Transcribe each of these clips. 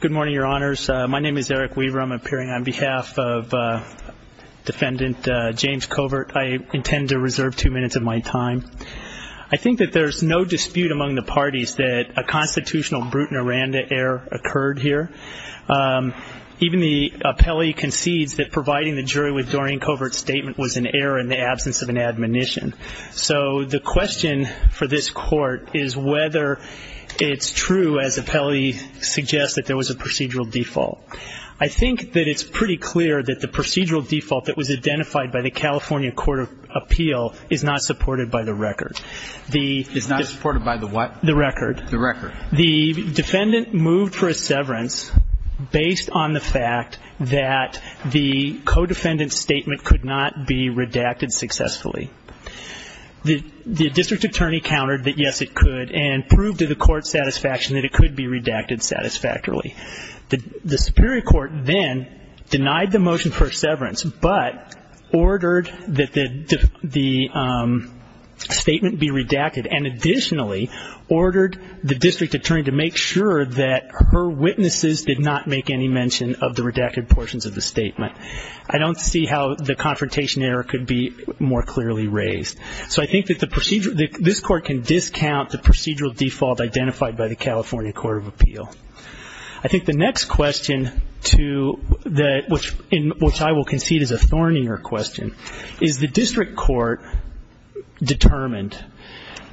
Good morning, your honors. My name is Eric Weaver. I'm appearing on behalf of defendant James Covert. I intend to reserve two minutes of my time. I think that there's no dispute among the parties that a constitutional Bruton-Aranda error occurred here. Even the appellee concedes that providing the jury with Doreen Covert's statement was an error in the absence of an admonition. So the question. For this court is whether it's true as appellee suggests that there was a procedural default. I think that it's pretty clear that the procedural default that was identified by the California Court of Appeal is not supported by the record. The defendant moved for a severance based on the fact that the co-defendant's statement could not be redacted successfully. The district attorney countered that yes, it could, and proved to the court's satisfaction that it could be redacted satisfactorily. The superior court then denied the motion for a severance, but ordered that the statement be redacted and additionally ordered the district attorney to make sure that her witnesses did not make any mention of the redacted portions of the statement. I don't see how the confrontation error could be more clearly raised. So I think that this court can discount the procedural default identified by the California Court of Appeal. I think the next question which I will concede is a thornier question. Is the district court determined,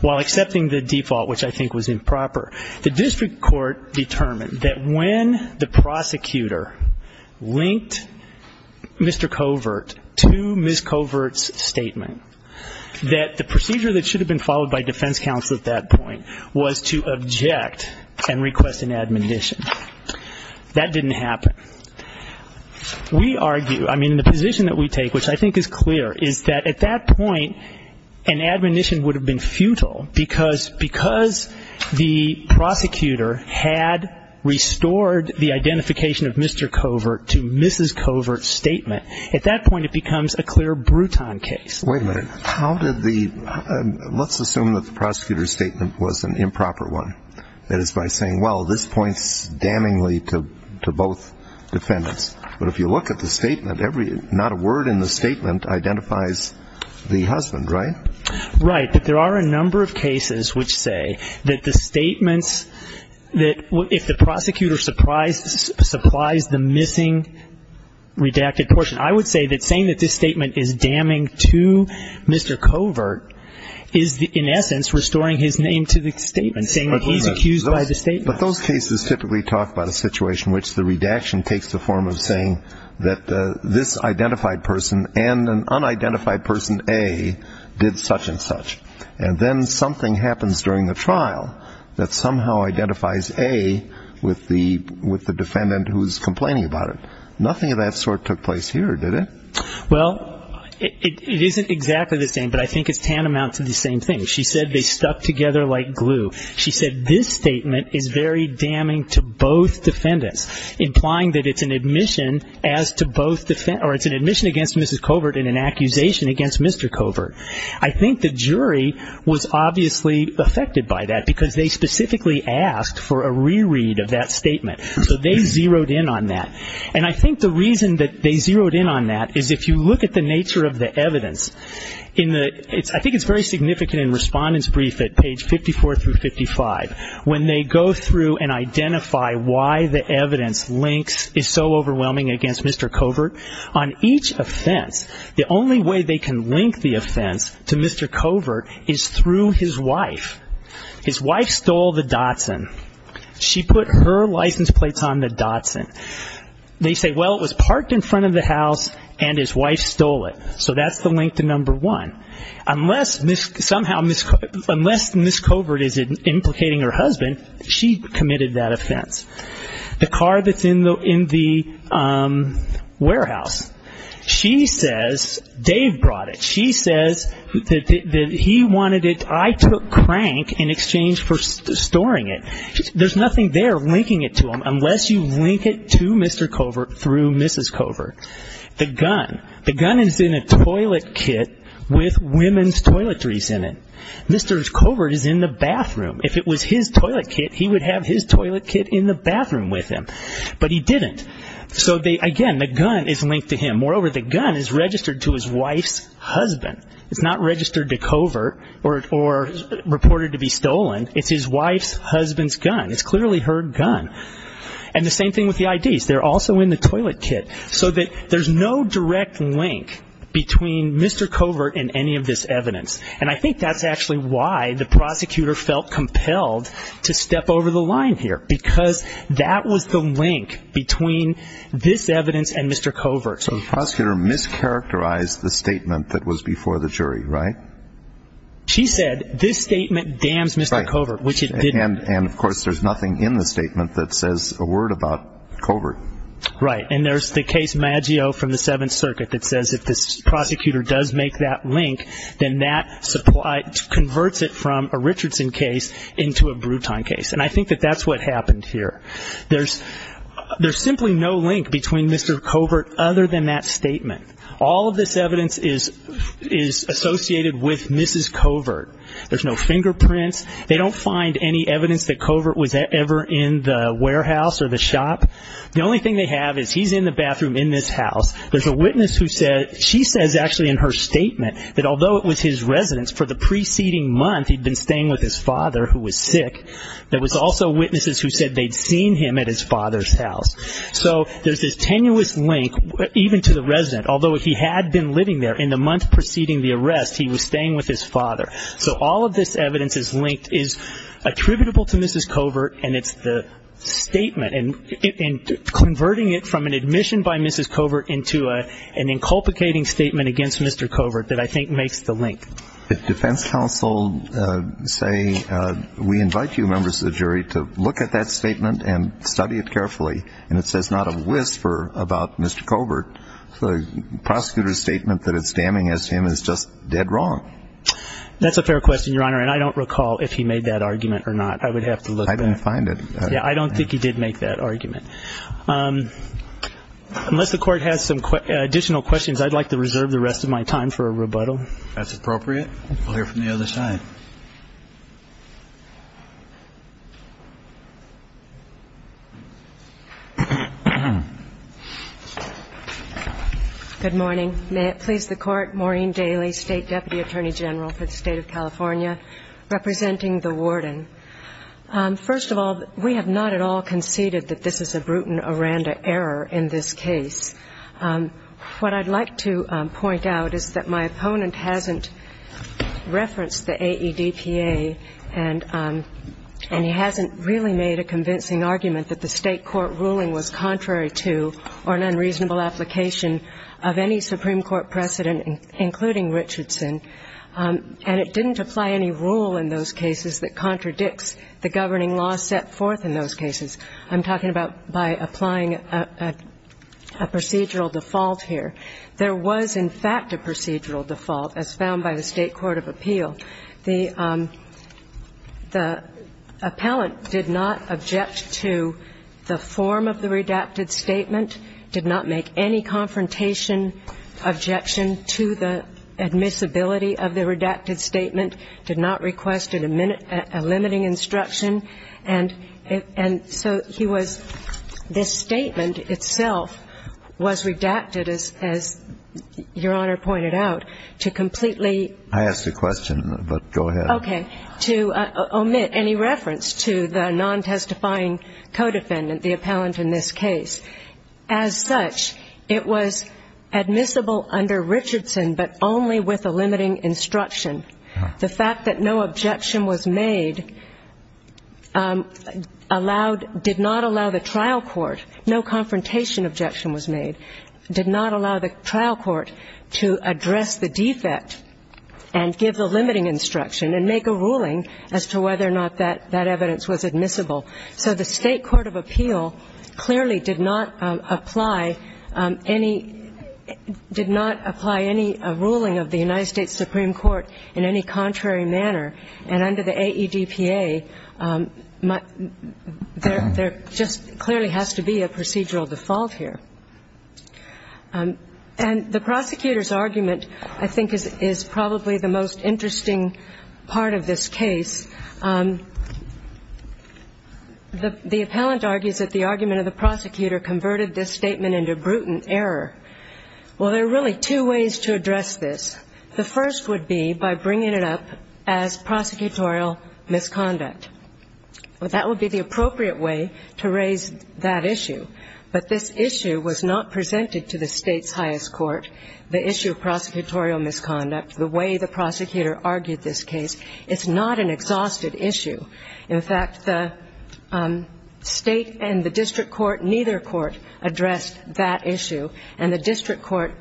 while accepting the default which I think was improper, the district court determined that when the prosecutor linked Mr. Covert to Ms. Covert's statement, that the procedure that should have been followed by defense counsel at that point was to object and request an admonition. That didn't happen. We argue, I mean, the position that we take, which I think is clear, is that at that point, an admonition would have been futile because the prosecutor had restored the identification of Mr. Covert to Ms. Covert's statement. At that point, it becomes a clear Bruton case. Wait a minute. Let's assume that the prosecutor's statement was an improper one. That is by saying, well, this points damningly to both defendants. But if you look at the statement, not a word in the statement identifies the husband, right? Right. But there are a number of cases which say that the statements that if the prosecutor supplies the missing redacted portion, I would say that saying that this statement is damning to Mr. Covert is, in essence, restoring his name to the statement, saying that he's accused by the statement. But those cases typically talk about a situation in which the redaction takes the form of saying that this identified person and an unidentified person A did such and such. And then something happens during the trial that somehow identifies A with the defendant who's complaining about it. Nothing of that sort took place here, did it? Well, it isn't exactly the same, but I think it's tantamount to the same thing. She said they stuck together like glue. She said this statement is very damning to both defendants, implying that it's an admission as to both defendants, or it's an admission against Mrs. Covert and an accusation against Mr. Covert. I think the jury was obviously affected by that, because they specifically asked for a reread of that statement. So they zeroed in on that. And I think the reason that they zeroed in on that is if you look at the nature of the evidence, in the ‑‑ I think it's very significant in Respondent's Brief at page 54 through 55, when they go through and identify why the evidence links is so overwhelming against Mr. Covert. On each offense, the only way they can link the offense to Mr. Covert is through his wife. His wife stole the Datsun. She put her license plates on the Datsun. They say, well, it was parked in front of the house, and his wife stole it. So that's the link to number one. Unless Ms. Covert is implicating her husband, she committed that offense. The car that's in the warehouse, she says Dave brought it. She says that he wanted it. I took crank in exchange for storing it. There's nothing there linking it to him, unless you link it to Mr. Covert through Mrs. Covert. The gun. The gun is in a toilet kit with women's toiletries in it. Mr. Covert is in the bathroom. If it was his toilet kit, he would have his toilet kit in the bathroom with him. But he didn't. So again, the gun is linked to him. Moreover, the gun is registered to his wife's husband. It's not registered to Covert or reported to be stolen. It's his wife's husband's gun. It's clearly her gun. And the same thing with the IDs. They're also in the toilet kit. So there's no direct link between Mr. Covert and any of this evidence. And I think that's actually why the prosecutor felt compelled to step over the line here, because that was the link between this evidence and Mr. Covert. So the prosecutor mischaracterized the statement that was before the jury, right? She said this statement damns Mr. Covert, which it didn't. And of course, there's nothing in the statement that says a word about Covert. Right. And there's the case Maggio from the Seventh Circuit that says if this prosecutor does make that link, then that converts it from a Richardson case into a Bruton case. And I think that that's what happened here. There's simply no link between Mr. Covert other than that statement. All of this evidence is associated with Mrs. Covert. There's no fingerprints. They don't find any evidence that Covert was ever in the warehouse or the shop. The only thing they have is he's in the bathroom in this house. There's a witness who said she says actually in her statement that although it was his residence for the preceding month he'd been staying with his father who was sick, there was also witnesses who said they'd seen him at his father's house. So there's this tenuous link even to the resident. Although he had been living there in the month preceding the arrest, he was staying with his father. So all of this evidence is linked, is attributable to Mrs. Covert, and it's the statement and converting it from an admission by Mrs. Covert into an inculcating statement against Mr. Covert that I think makes the link. If defense counsel say we invite you, members of the jury, to look at that statement and study it carefully and it says not a whisper about Mr. Covert, the prosecutor's statement that it's damning as to him is just dead wrong. That's a fair question, Your Honor, and I don't recall if he made that argument or not. I would have to look. I didn't find it. Yeah, I don't think he did make that argument. Unless the court has some additional questions, I'd like to reserve the rest of my time for a rebuttal. If that's appropriate, we'll hear from the other side. Good morning. May it please the Court, Maureen Daly, State Deputy Attorney General for the State of California, representing the warden. First of all, we have not at all conceded that this is a Bruton-Aranda error in this case. What I'd like to point out is that my opponent hasn't referenced the AEDPA, and he hasn't really made a convincing argument that the State court ruling was contrary to or an unreasonable application of any Supreme Court precedent, including Richardson. And it didn't apply any rule in those cases that contradicts the governing law set forth in those cases. I'm talking about by applying a procedural default here. There was, in fact, a procedural default, as found by the State court of appeal. The appellant did not object to the form of the redacted statement, did not make any confrontation objection to the admissibility of the redacted statement, did not request a limiting instruction. And so he was — this statement itself was redacted, as Your Honor pointed out, to completely — I asked a question, but go ahead. Okay. To omit any reference to the non-testifying co-defendant, the appellant in this case. As such, it was admissible under Richardson, but only with a limiting instruction. The fact that no objection was made allowed — did not allow the trial court, no confrontation objection was made, did not allow the trial court to address the defect and give the limiting instruction and make a ruling as to whether or not that evidence was admissible. So the State court of appeal clearly did not apply any — did not apply any ruling of the United States Supreme Court in any contrary manner. And under the AEDPA, there just clearly has to be a procedural default here. And the prosecutor's argument, I think, is probably the most interesting part of this case. The appellant argues that the argument of the prosecutor converted this statement into brutal error. Well, there are really two ways to address this. The first would be by bringing it up as prosecutorial misconduct. That would be the appropriate way to raise that issue. But this issue was not presented to the State's highest court, the issue of prosecutorial misconduct, the way the prosecutor argued this case. It's not an exhausted issue. In fact, the State and the district court, neither court addressed that issue. And the district court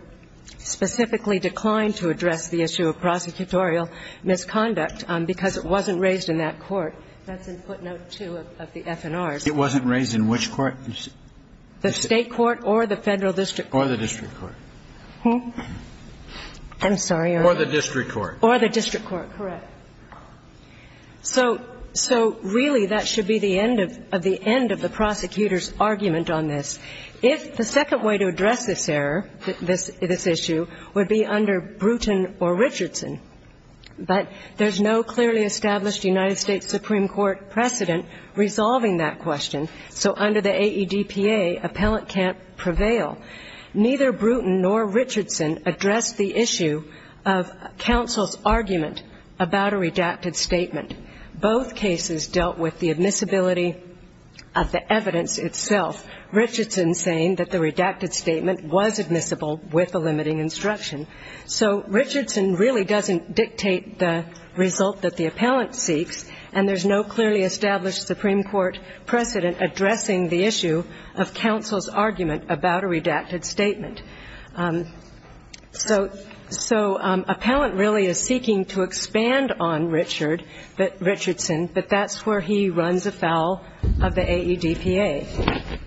specifically declined to address the issue of prosecutorial misconduct because it wasn't raised in that court. That's in footnote 2 of the F&Rs. It wasn't raised in which court? The State court or the Federal district court. Or the district court. I'm sorry. Or the district court. Or the district court, correct. So really, that should be the end of the end of the prosecutor's argument on this. If the second way to address this error, this issue, would be under Bruton or Richardson. But there's no clearly established United States Supreme Court precedent resolving that question. So under the AEDPA, appellant can't prevail. Neither Bruton nor Richardson addressed the issue of counsel's argument about a redacted statement. Both cases dealt with the admissibility of the evidence itself. Richardson saying that the redacted statement was admissible with a limiting instruction. So Richardson really doesn't dictate the result that the appellant seeks. And there's no clearly established Supreme Court precedent addressing the issue of counsel's argument about a redacted statement. So appellant really is seeking to expand on Richardson, but that's where he runs afoul of the AEDPA.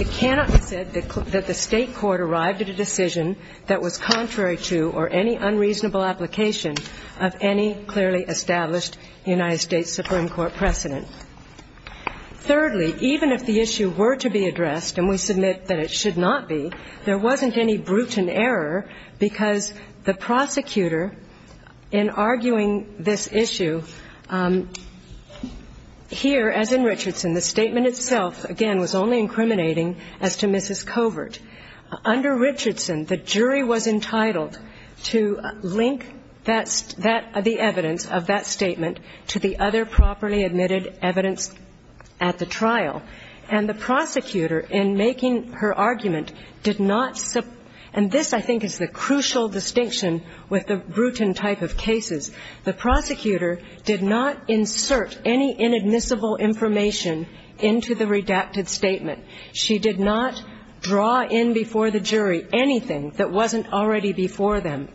It cannot be said that the State court arrived at a decision that was contrary to or any unreasonable application of any clearly established United States Supreme Court precedent. Thirdly, even if the issue were to be addressed, and we submit that it should not be, there wasn't any Bruton error because the prosecutor, in arguing this issue, here, as in Richardson, the statement itself, again, was only incriminating as to Mrs. Covert. Under Richardson, the jury was entitled to link that the evidence of that statement to the other properly admitted evidence at the trial. And the prosecutor, in making her argument, did not – and this, I think, is the crucial distinction with the Bruton type of cases. The prosecutor did not insert any inadmissible information into the redacted statement. She did not draw in before the jury anything that wasn't already before them.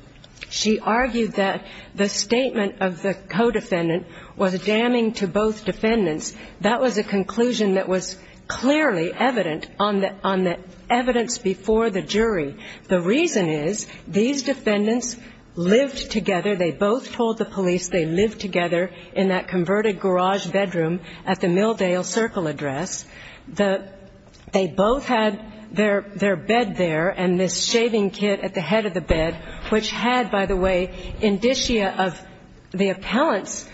She argued that the statement of the co-defendant was damning to both defendants. That was a conclusion that was clearly evident on the evidence before the jury. The reason is these defendants lived together. They both told the police they lived together in that converted garage bedroom at the Milldale Circle address. They both had their bed there and this shaving kit at the head of the bed, which had, by the way, indicia of the appellant's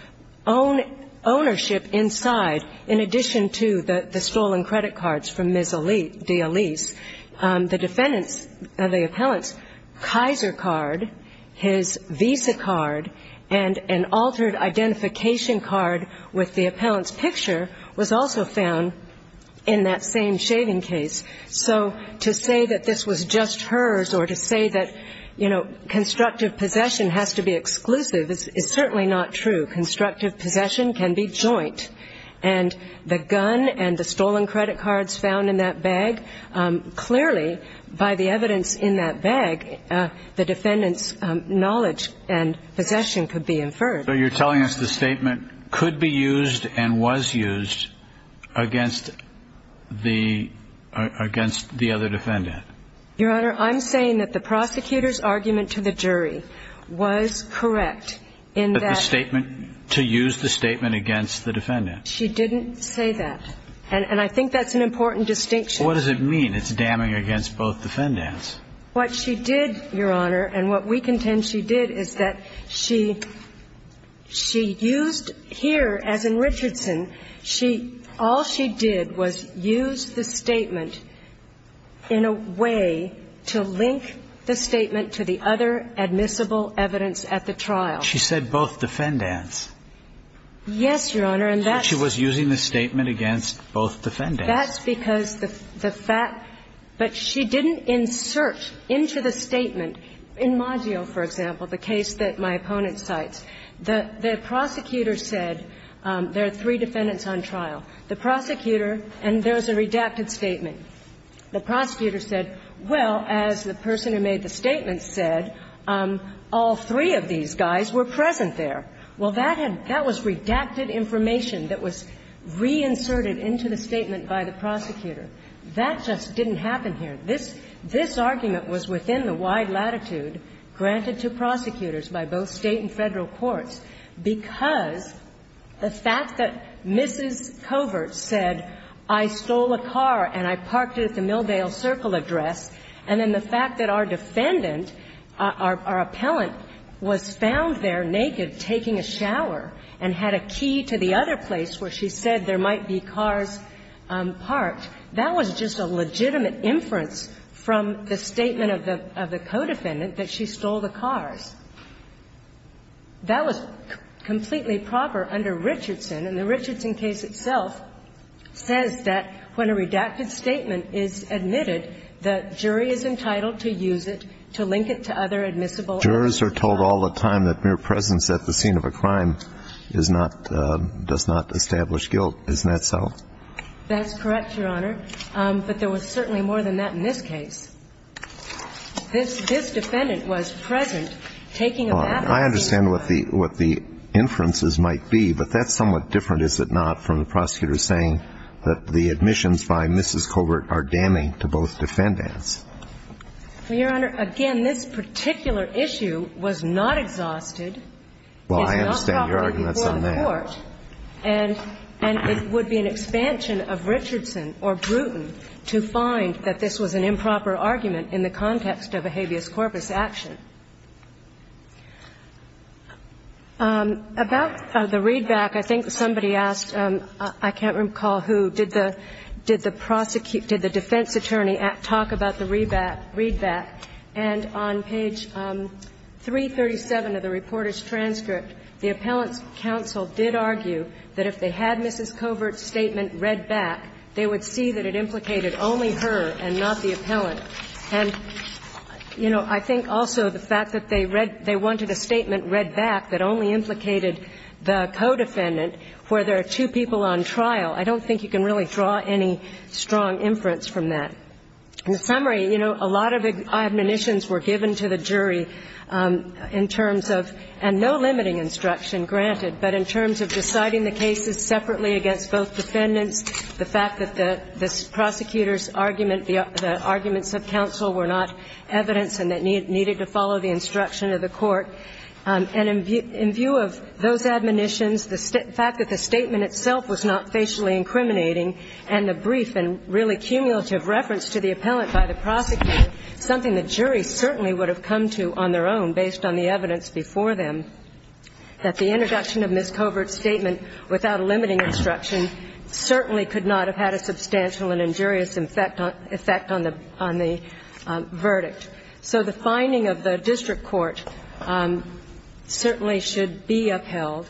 own ownership inside, in addition to the stolen credit cards from Ms. D'Elise. The defendant's – the appellant's Kaiser card, his Visa card, and an altered identification card with the appellant's picture was also found in that same shaving case. So to say that this was just hers or to say that, you know, constructive possession has to be exclusive is certainly not true. Constructive possession can be joint. And the gun and the stolen credit cards found in that bag, clearly, by the evidence in that bag, the defendant's knowledge and possession could be inferred. So you're telling us the statement could be used and was used against the other defendant? Your Honor, I'm saying that the prosecutor's argument to the jury was correct in that – in that case. And I think that's an important distinction. But what does it mean, it's damning against both defendants? What she did, Your Honor, and what we contend she did, is that she – she used here, as in Richardson, she – all she did was use the statement in a way to link the statement to the other admissible evidence at the trial. She said both defendants. Yes, Your Honor. So she was using the statement against both defendants. That's because the fact – but she didn't insert into the statement, in Maggio, for example, the case that my opponent cites, the prosecutor said there are three defendants on trial. The prosecutor – and there's a redacted statement. The prosecutor said, well, as the person who made the statement said, all three of these guys were present there. Well, that had – that was redacted information that was reinserted into the statement by the prosecutor. That just didn't happen here. This – this argument was within the wide latitude granted to prosecutors by both State and Federal courts because the fact that Mrs. Covert said, I stole a car and I parked it at the Milldale Circle address, and then the fact that our appellant was found there naked, taking a shower, and had a key to the other place where she said there might be cars parked, that was just a legitimate inference from the statement of the co-defendant that she stole the cars. That was completely proper under Richardson, and the Richardson case itself says that when a redacted statement is admitted, the jury is entitled to use it to link it to another admissible evidence. Jurors are told all the time that mere presence at the scene of a crime is not – does not establish guilt. Isn't that so? That's correct, Your Honor. But there was certainly more than that in this case. This defendant was present taking a bath at the scene. Well, I understand what the – what the inferences might be, but that's somewhat different, is it not, from the prosecutor saying that the admissions by Mrs. Covert are damning to both defendants. Well, Your Honor, again, this particular issue was not exhausted. Well, I understand your arguments on that. It's not proper before the Court, and it would be an expansion of Richardson or Brewton to find that this was an improper argument in the context of a habeas corpus action. About the readback, I think somebody asked, I can't recall who, did the – did the defense attorney talk about the readback? And on page 337 of the reporter's transcript, the appellant's counsel did argue that if they had Mrs. Covert's statement read back, they would see that it implicated only her and not the appellant. And, you know, I think also the fact that they read – they wanted a statement read back that only implicated the co-defendant where there are two people on trial, I don't think you can really draw any strong inference from that. In summary, you know, a lot of admonitions were given to the jury in terms of – and no limiting instruction granted, but in terms of deciding the cases separately against both defendants, the fact that the prosecutor's argument, the arguments of counsel were not evidence and that needed to follow the instruction of the Court. And in view of those admonitions, the fact that the statement itself was not facially incriminating and the brief and really cumulative reference to the appellant by the prosecutor, something the jury certainly would have come to on their own based on the evidence before them, that the introduction of Mrs. Covert's statement without limiting instruction certainly could not have had a substantial and injurious effect on the – on the verdict. So the finding of the district court certainly should be upheld.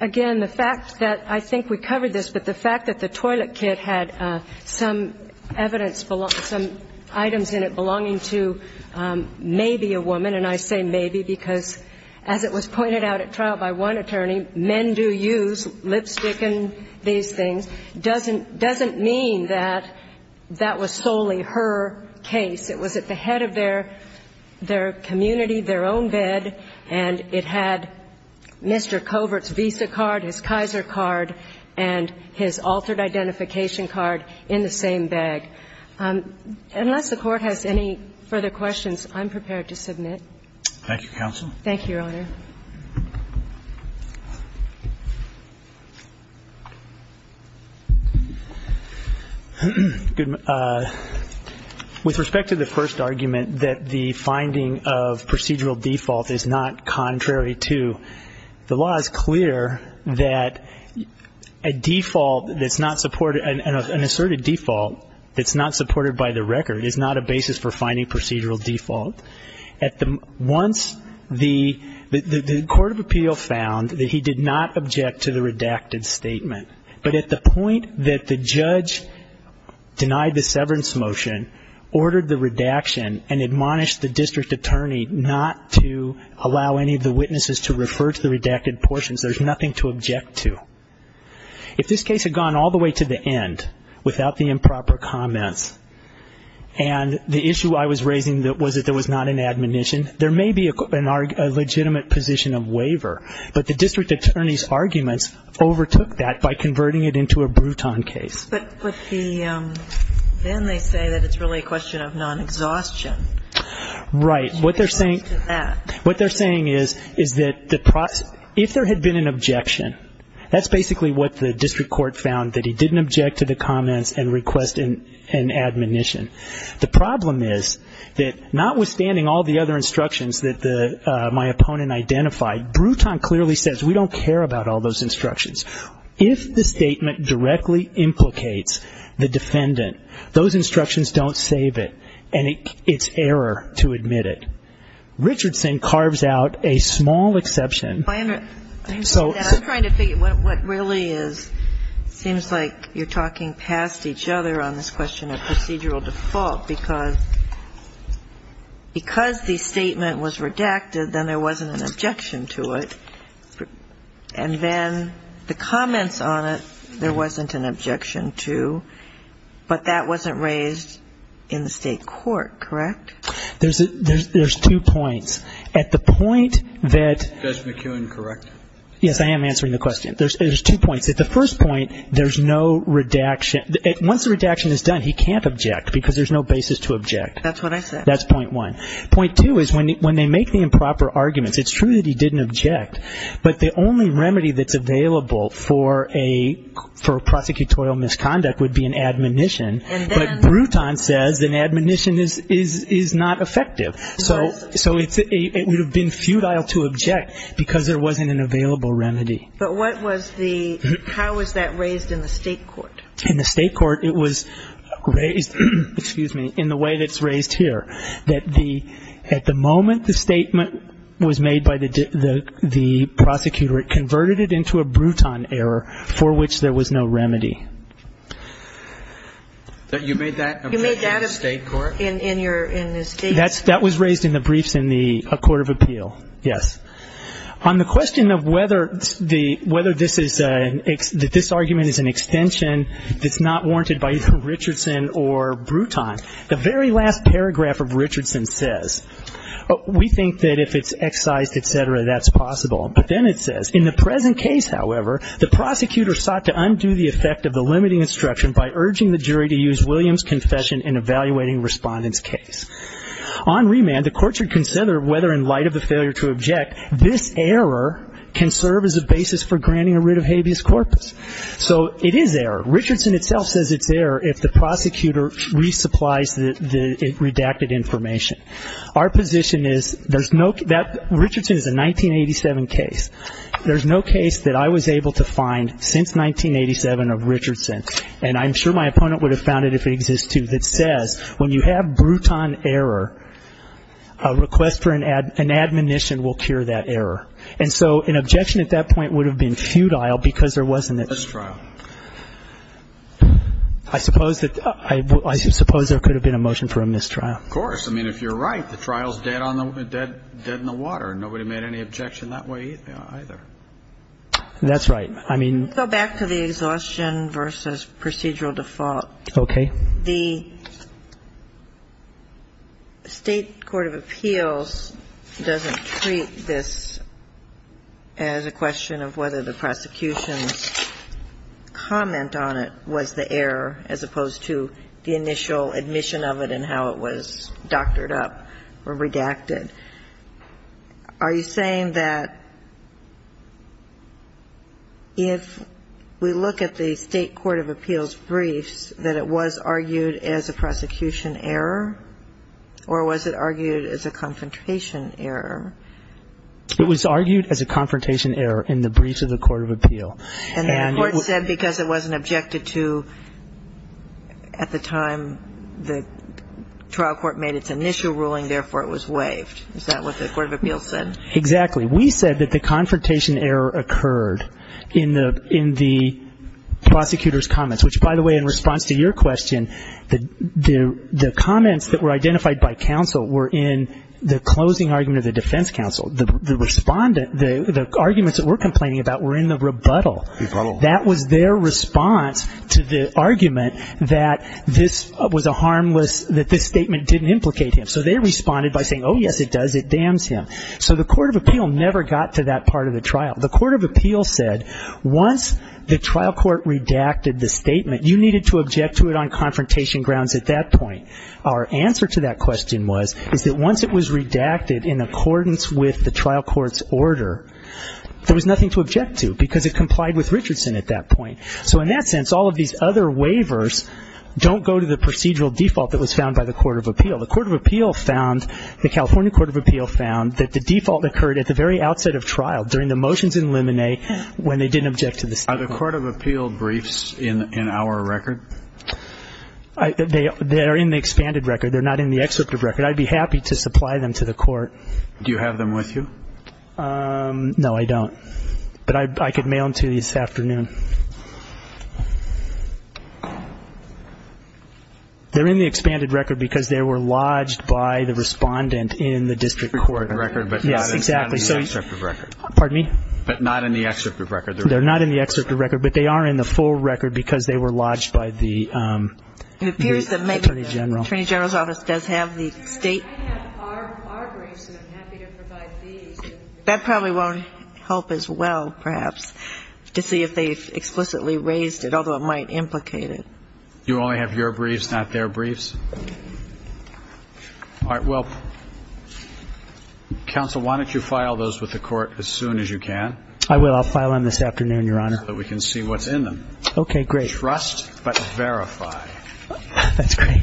Again, the fact that – I think we covered this, but the fact that the toilet kit had some evidence – some items in it belonging to maybe a woman, and I say maybe because, as it was pointed out at trial by one attorney, men do use lipstick and these things, doesn't mean that that was solely her case. It was at the head of their community, their own bed, and it had Mr. Covert's Visa card, his Kaiser card, and his altered identification card in the same bag. Unless the Court has any further questions, I'm prepared to submit. Thank you, Your Honor. With respect to the first argument, that the finding of procedural default is not contrary to, the law is clear that a default that's not supported – an asserted default that's not supported by the record is not a basis for finding procedural default. The Court of Appeal found that he did not object to the redacted statement, but at the point that the judge denied the severance motion, ordered the redaction, and admonished the district attorney not to allow any of the witnesses to refer to the redacted portions, there's nothing to object to. If this case had gone all the way to the end without the improper comments, and the position of waiver, but the district attorney's arguments overtook that by converting it into a Bruton case. But then they say that it's really a question of non-exhaustion. Right. What they're saying is that if there had been an objection, that's basically what the district court found, that he didn't object to the comments and request an admonition. The problem is that notwithstanding all the other instructions that my opponent identified, Bruton clearly says we don't care about all those instructions. If the statement directly implicates the defendant, those instructions don't save it, and it's error to admit it. Richardson carves out a small exception. I understand that. I'm trying to figure out what really is – it seems like you're talking past each other on this question of procedural default. Because the statement was redacted, then there wasn't an objection to it. And then the comments on it, there wasn't an objection to. But that wasn't raised in the State court, correct? There's two points. At the point that – Judge McKeown, correct? Yes, I am answering the question. There's two points. At the first point, there's no redaction. Once the redaction is done, he can't object because there's no basis to object. That's what I said. That's point one. Point two is when they make the improper arguments, it's true that he didn't object. But the only remedy that's available for a prosecutorial misconduct would be an admonition. But Bruton says an admonition is not effective. So it would have been futile to object because there wasn't an available remedy. But what was the – how was that raised in the State court? In the State court, it was raised, excuse me, in the way that's raised here, that at the moment the statement was made by the prosecutor, it converted it into a Bruton error for which there was no remedy. You made that in the State court? You made that in the State court? That was raised in the briefs in the court of appeal, yes. On the question of whether this argument is an extension that's not warranted by either Richardson or Bruton, the very last paragraph of Richardson says, we think that if it's excised, et cetera, that's possible. But then it says, in the present case, however, the prosecutor sought to undo the effect of the limiting instruction by urging the jury to use Williams' confession in evaluating Respondent's case. On remand, the court should consider whether in light of the failure to object, this error can serve as a basis for granting a writ of habeas corpus. So it is error. Richardson itself says it's error if the prosecutor resupplies the redacted information. Our position is there's no – that Richardson is a 1987 case. There's no case that I was able to find since 1987 of Richardson, and I'm sure my opponent would have found it if it exists too, that says when you have Bruton error, a request for an admonition will cure that error. And so an objection at that point would have been futile because there wasn't a trial. I suppose that – I suppose there could have been a motion for a mistrial. Of course. I mean, if you're right, the trial's dead on the – dead in the water. Nobody made any objection that way either. That's right. I mean – Go back to the exhaustion versus procedural default. Okay. The State Court of Appeals doesn't treat this as a question of whether the prosecution's comment on it was the error as opposed to the initial admission of it and how it was doctored up or redacted. Are you saying that if we look at the State Court of Appeals briefs, that it was argued as a prosecution error, or was it argued as a confrontation error? It was argued as a confrontation error in the briefs of the Court of Appeals. And the court said because it wasn't objected to at the time the trial court made its initial ruling, therefore it was waived. Is that what the Court of Appeals said? Exactly. We said that the confrontation error occurred in the prosecutor's comments, which, by the way, in response to your question, the comments that were identified by counsel were in the closing argument of the defense counsel. The respondent – the arguments that we're complaining about were in the rebuttal. Rebuttal. That was their response to the argument that this was a harmless – that this statement didn't implicate him. So they responded by saying, oh, yes, it does. It damns him. So the Court of Appeals never got to that part of the trial. The Court of Appeals said once the trial court redacted the statement, you needed to object to it on confrontation grounds at that point. Our answer to that question was is that once it was redacted in accordance with the trial court's order, there was nothing to object to because it complied with Richardson at that point. So in that sense, all of these other waivers don't go to the procedural default that was found by the Court of Appeals. The Court of Appeals found – the California Court of Appeals found that the default occurred at the very outset of trial, during the motions in limine when they didn't object to the statement. Are the Court of Appeals briefs in our record? They are in the expanded record. They're not in the excerpt of record. I'd be happy to supply them to the court. Do you have them with you? But I could mail them to you this afternoon. They're in the expanded record because they were lodged by the respondent in the district court. In the record, but not in the excerpt of record. Pardon me? But not in the excerpt of record. They're not in the excerpt of record, but they are in the full record because they were lodged by the Attorney General. It appears that maybe the Attorney General's office does have the state. I have our briefs, and I'm happy to provide these. That probably won't help as well, perhaps, to see if they fit. I just explicitly raised it, although it might implicate it. You only have your briefs, not their briefs? All right. Well, counsel, why don't you file those with the court as soon as you can? I will. I'll file them this afternoon, Your Honor. So that we can see what's in them. Okay, great. Trust, but verify. That's great.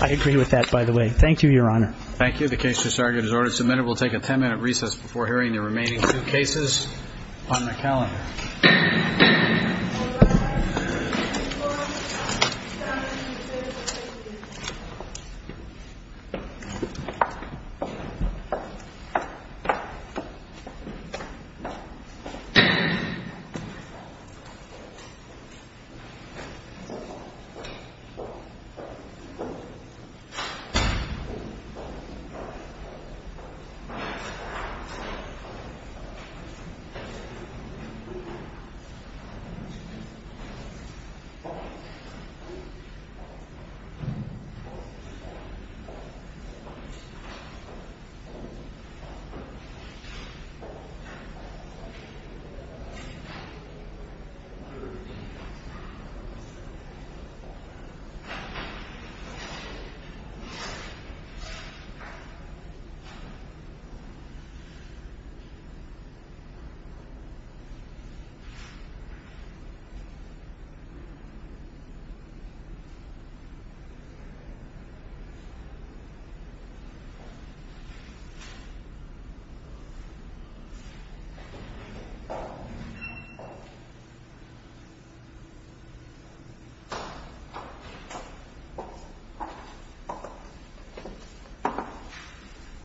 I agree with that, by the way. Thank you, Your Honor. Thank you. The case has already been submitted. We'll take a ten-minute recess before hearing the remaining two cases on the calendar. Thank you. Thank you.